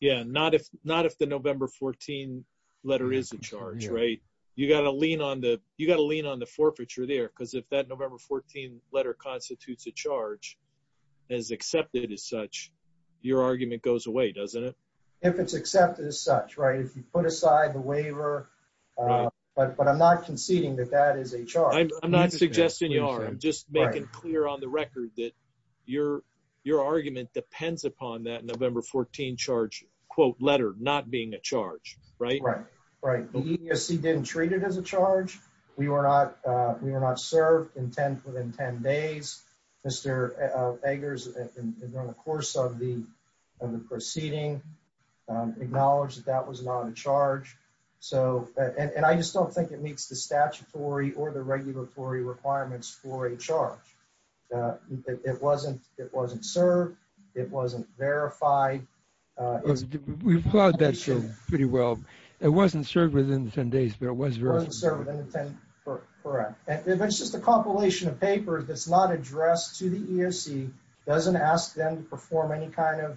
yeah, not if the November 14 letter is a charge, right? You've got to lean on the forfeiture there, because if that November 14 letter constitutes a charge, as accepted as such, your argument goes away, doesn't it? If it's accepted as such, right? If you put aside the waiver, but I'm not conceding that that is a charge. I'm not suggesting you are. I'm just making clear on the record that your argument depends upon that November 14 charge, quote, letter, not being a charge, right? Right. The EEOC didn't treat it as a charge. We were not served within 10 days. Mr. Eggers, in the course of the proceeding, acknowledged that that was not a charge. And I just don't think it meets the statutory or the regulatory requirements for a charge. It wasn't served. It wasn't verified. We've heard that pretty well. It wasn't served within 10 days, but it was verified. It wasn't served within 10 days, correct. If it's just a compilation of papers that's not addressed to the EEOC, doesn't ask them to pursue any kind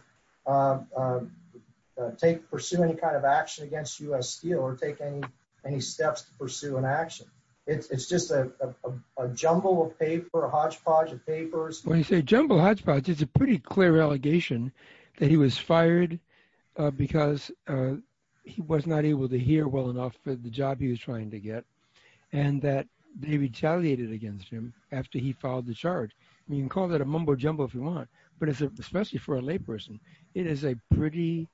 of action against U.S. Steel or take any steps to pursue an action. It's just a jumble of paper, a hodgepodge of papers. When you say jumble hodgepodge, it's a pretty clear allegation that he was fired because he was not able to hear well enough the job he was trying to get and that they retaliated against him after he filed the charge. You can call that a mumbo jumbo if you want, but especially for a layperson, it is a pretty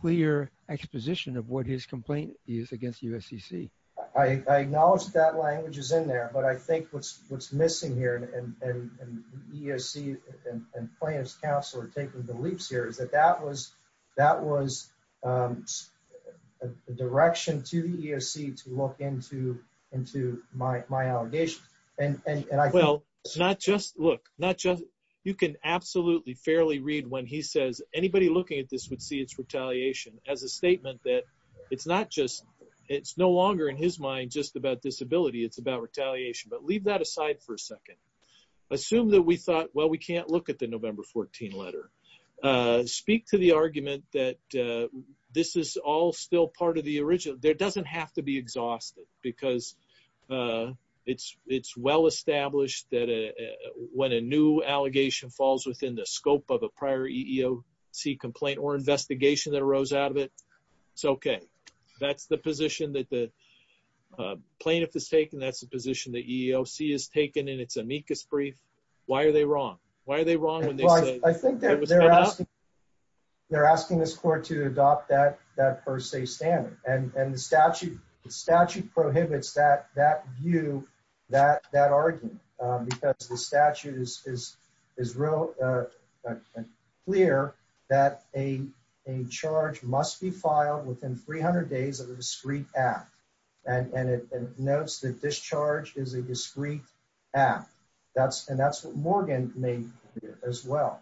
clear exposition of what his complaint is against the USCC. I acknowledge that language is in there, but I think what's missing here, and EEOC and plaintiff's counsel are taking the leaps here, is that that was a direction to the EEOC to look into my allegation. Well, not just, look, not just, you can absolutely fairly read when he says anybody looking at this would see it's retaliation as a statement that it's not just, it's no longer in his mind just about disability, it's about retaliation. But leave that aside for a second. Assume that we thought, well, we can't look at the November 14 letter. Speak to the argument that this is all still part of the original, there doesn't have to be exhausted because it's well established that when a new allegation falls within the scope of a prior EEOC complaint or investigation that arose out of it, it's okay. That's the position that the plaintiff has taken, that's the position that EEOC has taken in its amicus brief. Why are they wrong? Why are they wrong? Well, I think they're asking, they're asking this court to adopt that per se standard. And the statute prohibits that view, that argument. Because the statute is real clear that a charge must be filed within 300 days of a discreet act. And it notes that this charge is a discreet act. And that's what Morgan made clear as well.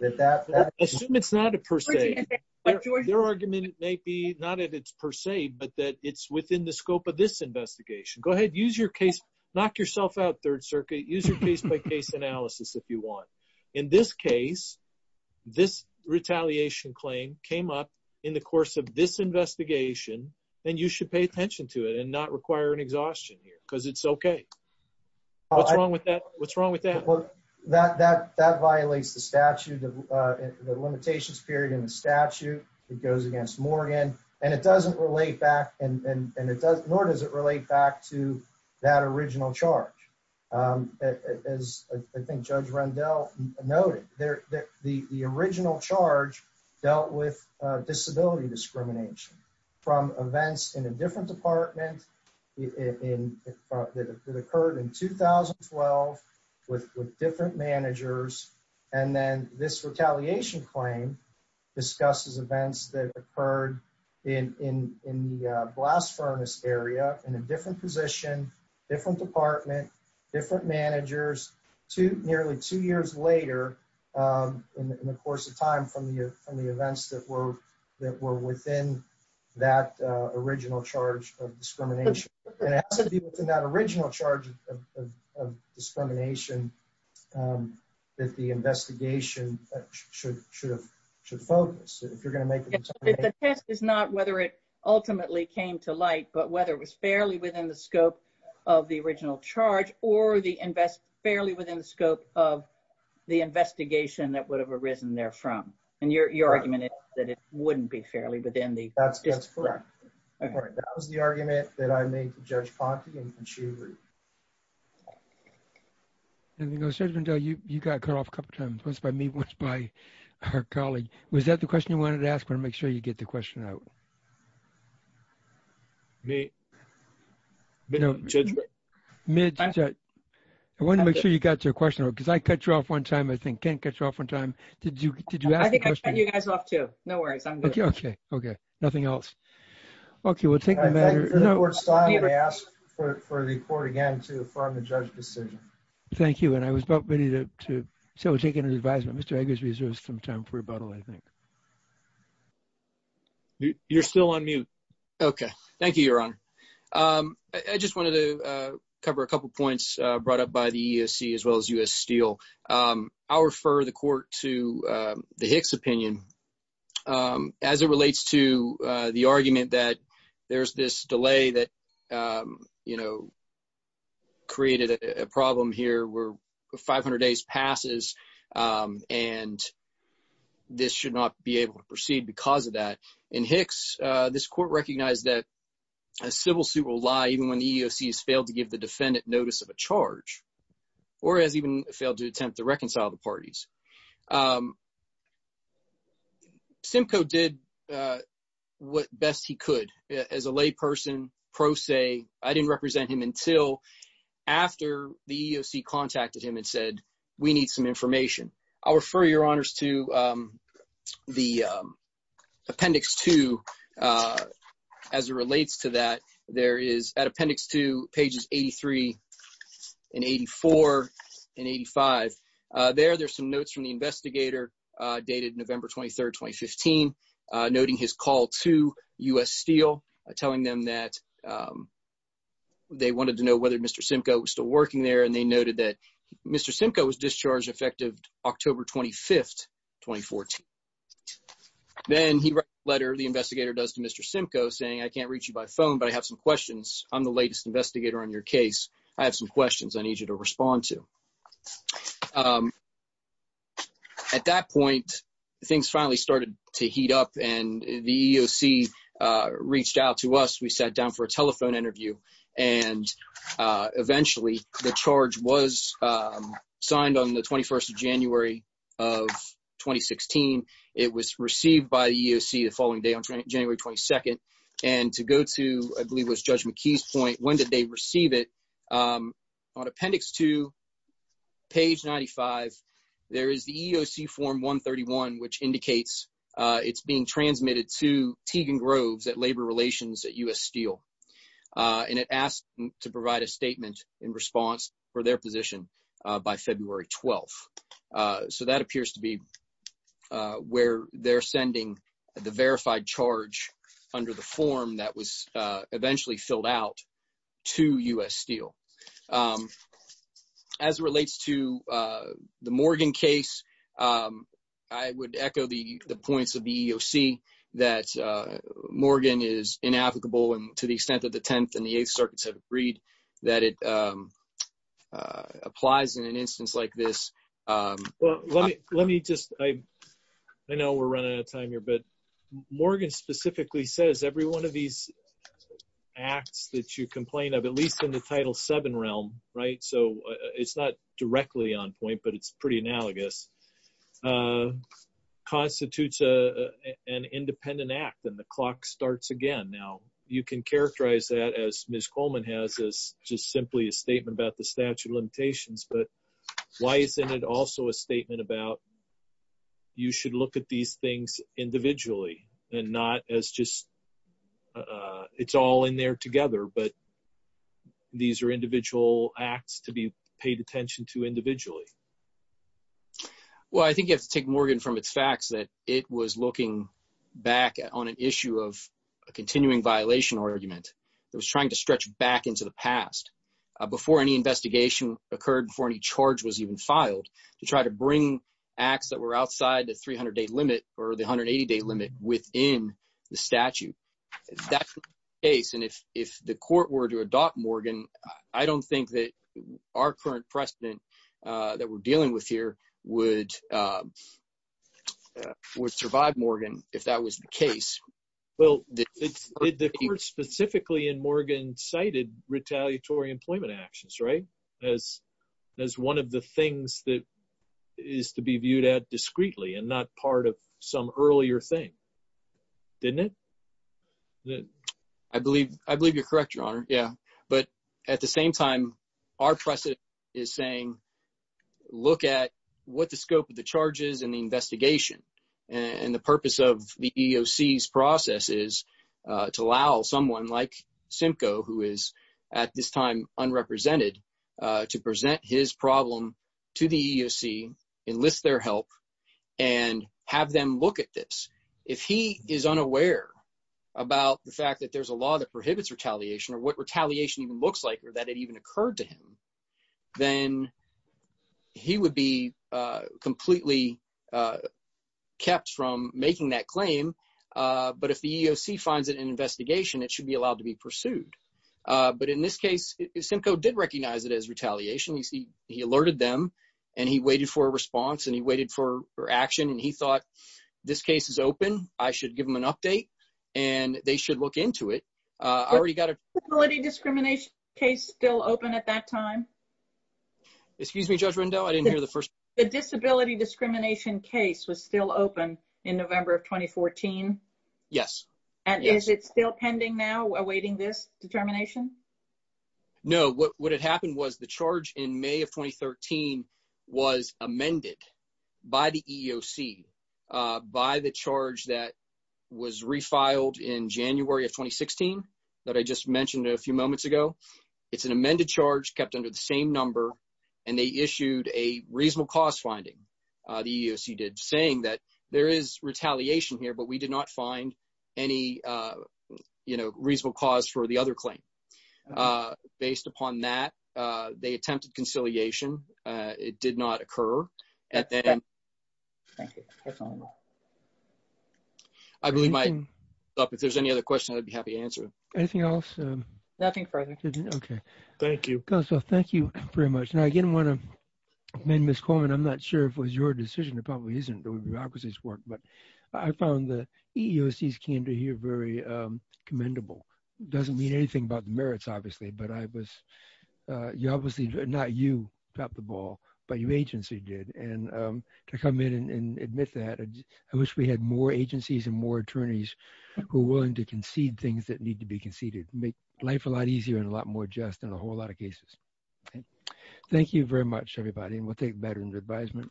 Assume it's not a per se. Their argument may be not that it's per se, but that it's within the scope of this investigation. Go ahead, use your case. Knock yourself out, Third Circuit. Use your case-by-case analysis if you want. In this case, this retaliation claim came up in the course of this investigation, and you should pay attention to it and not require an exhaustion here because it's okay. What's wrong with that? What's wrong with that? That violates the statute, the limitations period in the statute. It goes against Morgan. And it doesn't relate back, nor does it relate back to that original charge. As I think Judge Rendell noted, the original charge dealt with disability discrimination from events in a different department that occurred in 2012 with different managers. And then this retaliation claim discusses events that occurred in the blast furnace area in a different position, different department, different managers, nearly two years later in the course of time from the events that were within that original charge of discrimination. It has to do with that original charge of discrimination that the investigation should focus. If you're going to make a determination. The test is not whether it ultimately came to light, but whether it was fairly within the scope of the original charge or fairly within the scope of the investigation that would have arisen there from. And your argument is that it wouldn't be fairly within the scope. That's correct. That was the argument that I made to Judge Ponte and she agreed. Judge Rendell, you got cut off a couple times. Once by me, once by our colleague. Was that the question you wanted to ask? I want to make sure you get the question out. I want to make sure you got your question out because I cut you off one time, I think. Ken cut you off one time. I think I cut you guys off too. No worries. I'm good. Okay. Okay. Nothing else. Okay, we'll take the matter. I asked for the court again to affirm the judge decision. Thank you. And I was about ready to take an advisement. Mr. Eggers reserves some time for rebuttal. I think you're still on mute. Okay. Thank you, Your Honor. I just wanted to cover a couple points brought up by the ESC as well as us steel. I'll refer the court to the Hicks opinion as it relates to the argument that there's this delay that created a problem here where 500 days passes, and this should not be able to proceed because of that. In Hicks, this court recognized that a civil suit will lie even when the EEOC has failed to give the defendant notice of a charge or has even failed to attempt to reconcile the parties. Simcoe did what best he could. As a layperson, pro se, I didn't represent him until after the EEOC contacted him and said we need some information. I'll refer your honors to the appendix to as it relates to that. There is an appendix to pages 83 and 84 and 85. There are some notes from the investigator dated November 23rd, 2015, noting his call to U.S. Steel, telling them that they wanted to know whether Mr. Simcoe was still working there, and they noted that Mr. Simcoe was discharged effective October 25th, 2014. Then he wrote a letter the investigator does to Mr. Simcoe saying I can't reach you by phone, but I have some questions. I'm the latest investigator on your case. I have some questions I need you to respond to. At that point, things finally started to heat up, and the EEOC reached out to us. We sat down for a telephone interview, and eventually the charge was signed on the 21st of January of 2016. It was received by the EEOC the following day on January 22nd. And to go to, I believe it was Judge McKee's point, when did they receive it? On appendix 2, page 95, there is the EEOC form 131, which indicates it's being transmitted to Teagan Groves at Labor Relations at U.S. Steel. And it asks to provide a statement in response for their position by February 12th. So that appears to be where they're sending the verified charge under the form that was eventually filled out to U.S. Steel. As it relates to the Morgan case, I would echo the points of the EEOC that Morgan is inapplicable, and to the extent that the Tenth and the Eighth Circuits have agreed that it applies in an instance like this. Let me just – I know we're running out of time here, but Morgan specifically says every one of these acts that you complain of, at least in the Title VII realm, right, so it's not directly on point, but it's pretty analogous, constitutes an independent act, and the clock starts again. Now, you can characterize that, as Ms. Coleman has, as just simply a statement about the statute of limitations, but why isn't it also a statement about you should look at these things individually and not as just it's all in there together, but these are individual acts to be paid attention to individually? Well, I think you have to take Morgan from its facts that it was looking back on an issue of a continuing violation argument. It was trying to stretch back into the past before any investigation occurred, before any charge was even filed, to try to bring acts that were outside the 300-day limit or the 180-day limit within the statute. That's the case, and if the court were to adopt Morgan, I don't think that our current precedent that we're dealing with here would survive Morgan if that was the case. Well, did the court specifically in Morgan cited retaliatory employment actions as one of the things that is to be viewed at discreetly and not part of some earlier thing? Didn't it? I believe you're correct, Your Honor. But at the same time, our precedent is saying look at what the scope of the charge is in the investigation, and the purpose of the EEOC's process is to allow someone like Simcoe, who is at this time unrepresented, to present his problem to the EEOC, enlist their help, and have them look at this. If he is unaware about the fact that there's a law that prohibits retaliation or what retaliation even looks like or that it even occurred to him, then he would be completely kept from making that claim. But if the EEOC finds it in an investigation, it should be allowed to be pursued. But in this case, Simcoe did recognize it as retaliation. He alerted them, and he waited for a response, and he waited for action, and he thought this case is open. I should give them an update, and they should look into it. Is the disability discrimination case still open at that time? Excuse me, Judge Rendell. I didn't hear the first part. The disability discrimination case was still open in November of 2014? Yes. And is it still pending now, awaiting this determination? No. What had happened was the charge in May of 2013 was amended by the EEOC, by the charge that was refiled in January of 2016 that I just mentioned a few moments ago. It's an amended charge kept under the same number, and they issued a reasonable cause finding, the EEOC did, saying that there is retaliation here, but we did not find any reasonable cause for the other claim. Based upon that, they attempted conciliation. It did not occur. Thank you. That's all I know. If there's any other questions, I'd be happy to answer them. Anything else? Nothing further. Okay. Thank you. Thank you very much. Now, again, I want to commend Ms. Coleman. I'm not sure if it was your decision. It probably isn't. The bureaucracy's worked, but I found the EEOC's candor here very commendable. It doesn't mean anything about the merits, obviously, but you obviously, not you popped the ball, but your agency did. And to come in and admit that, I wish we had more agencies and more attorneys who are willing to concede things that need to be conceded. It would make life a lot easier and a lot more just in a whole lot of cases. Thank you very much, everybody, and we'll take that under advisement.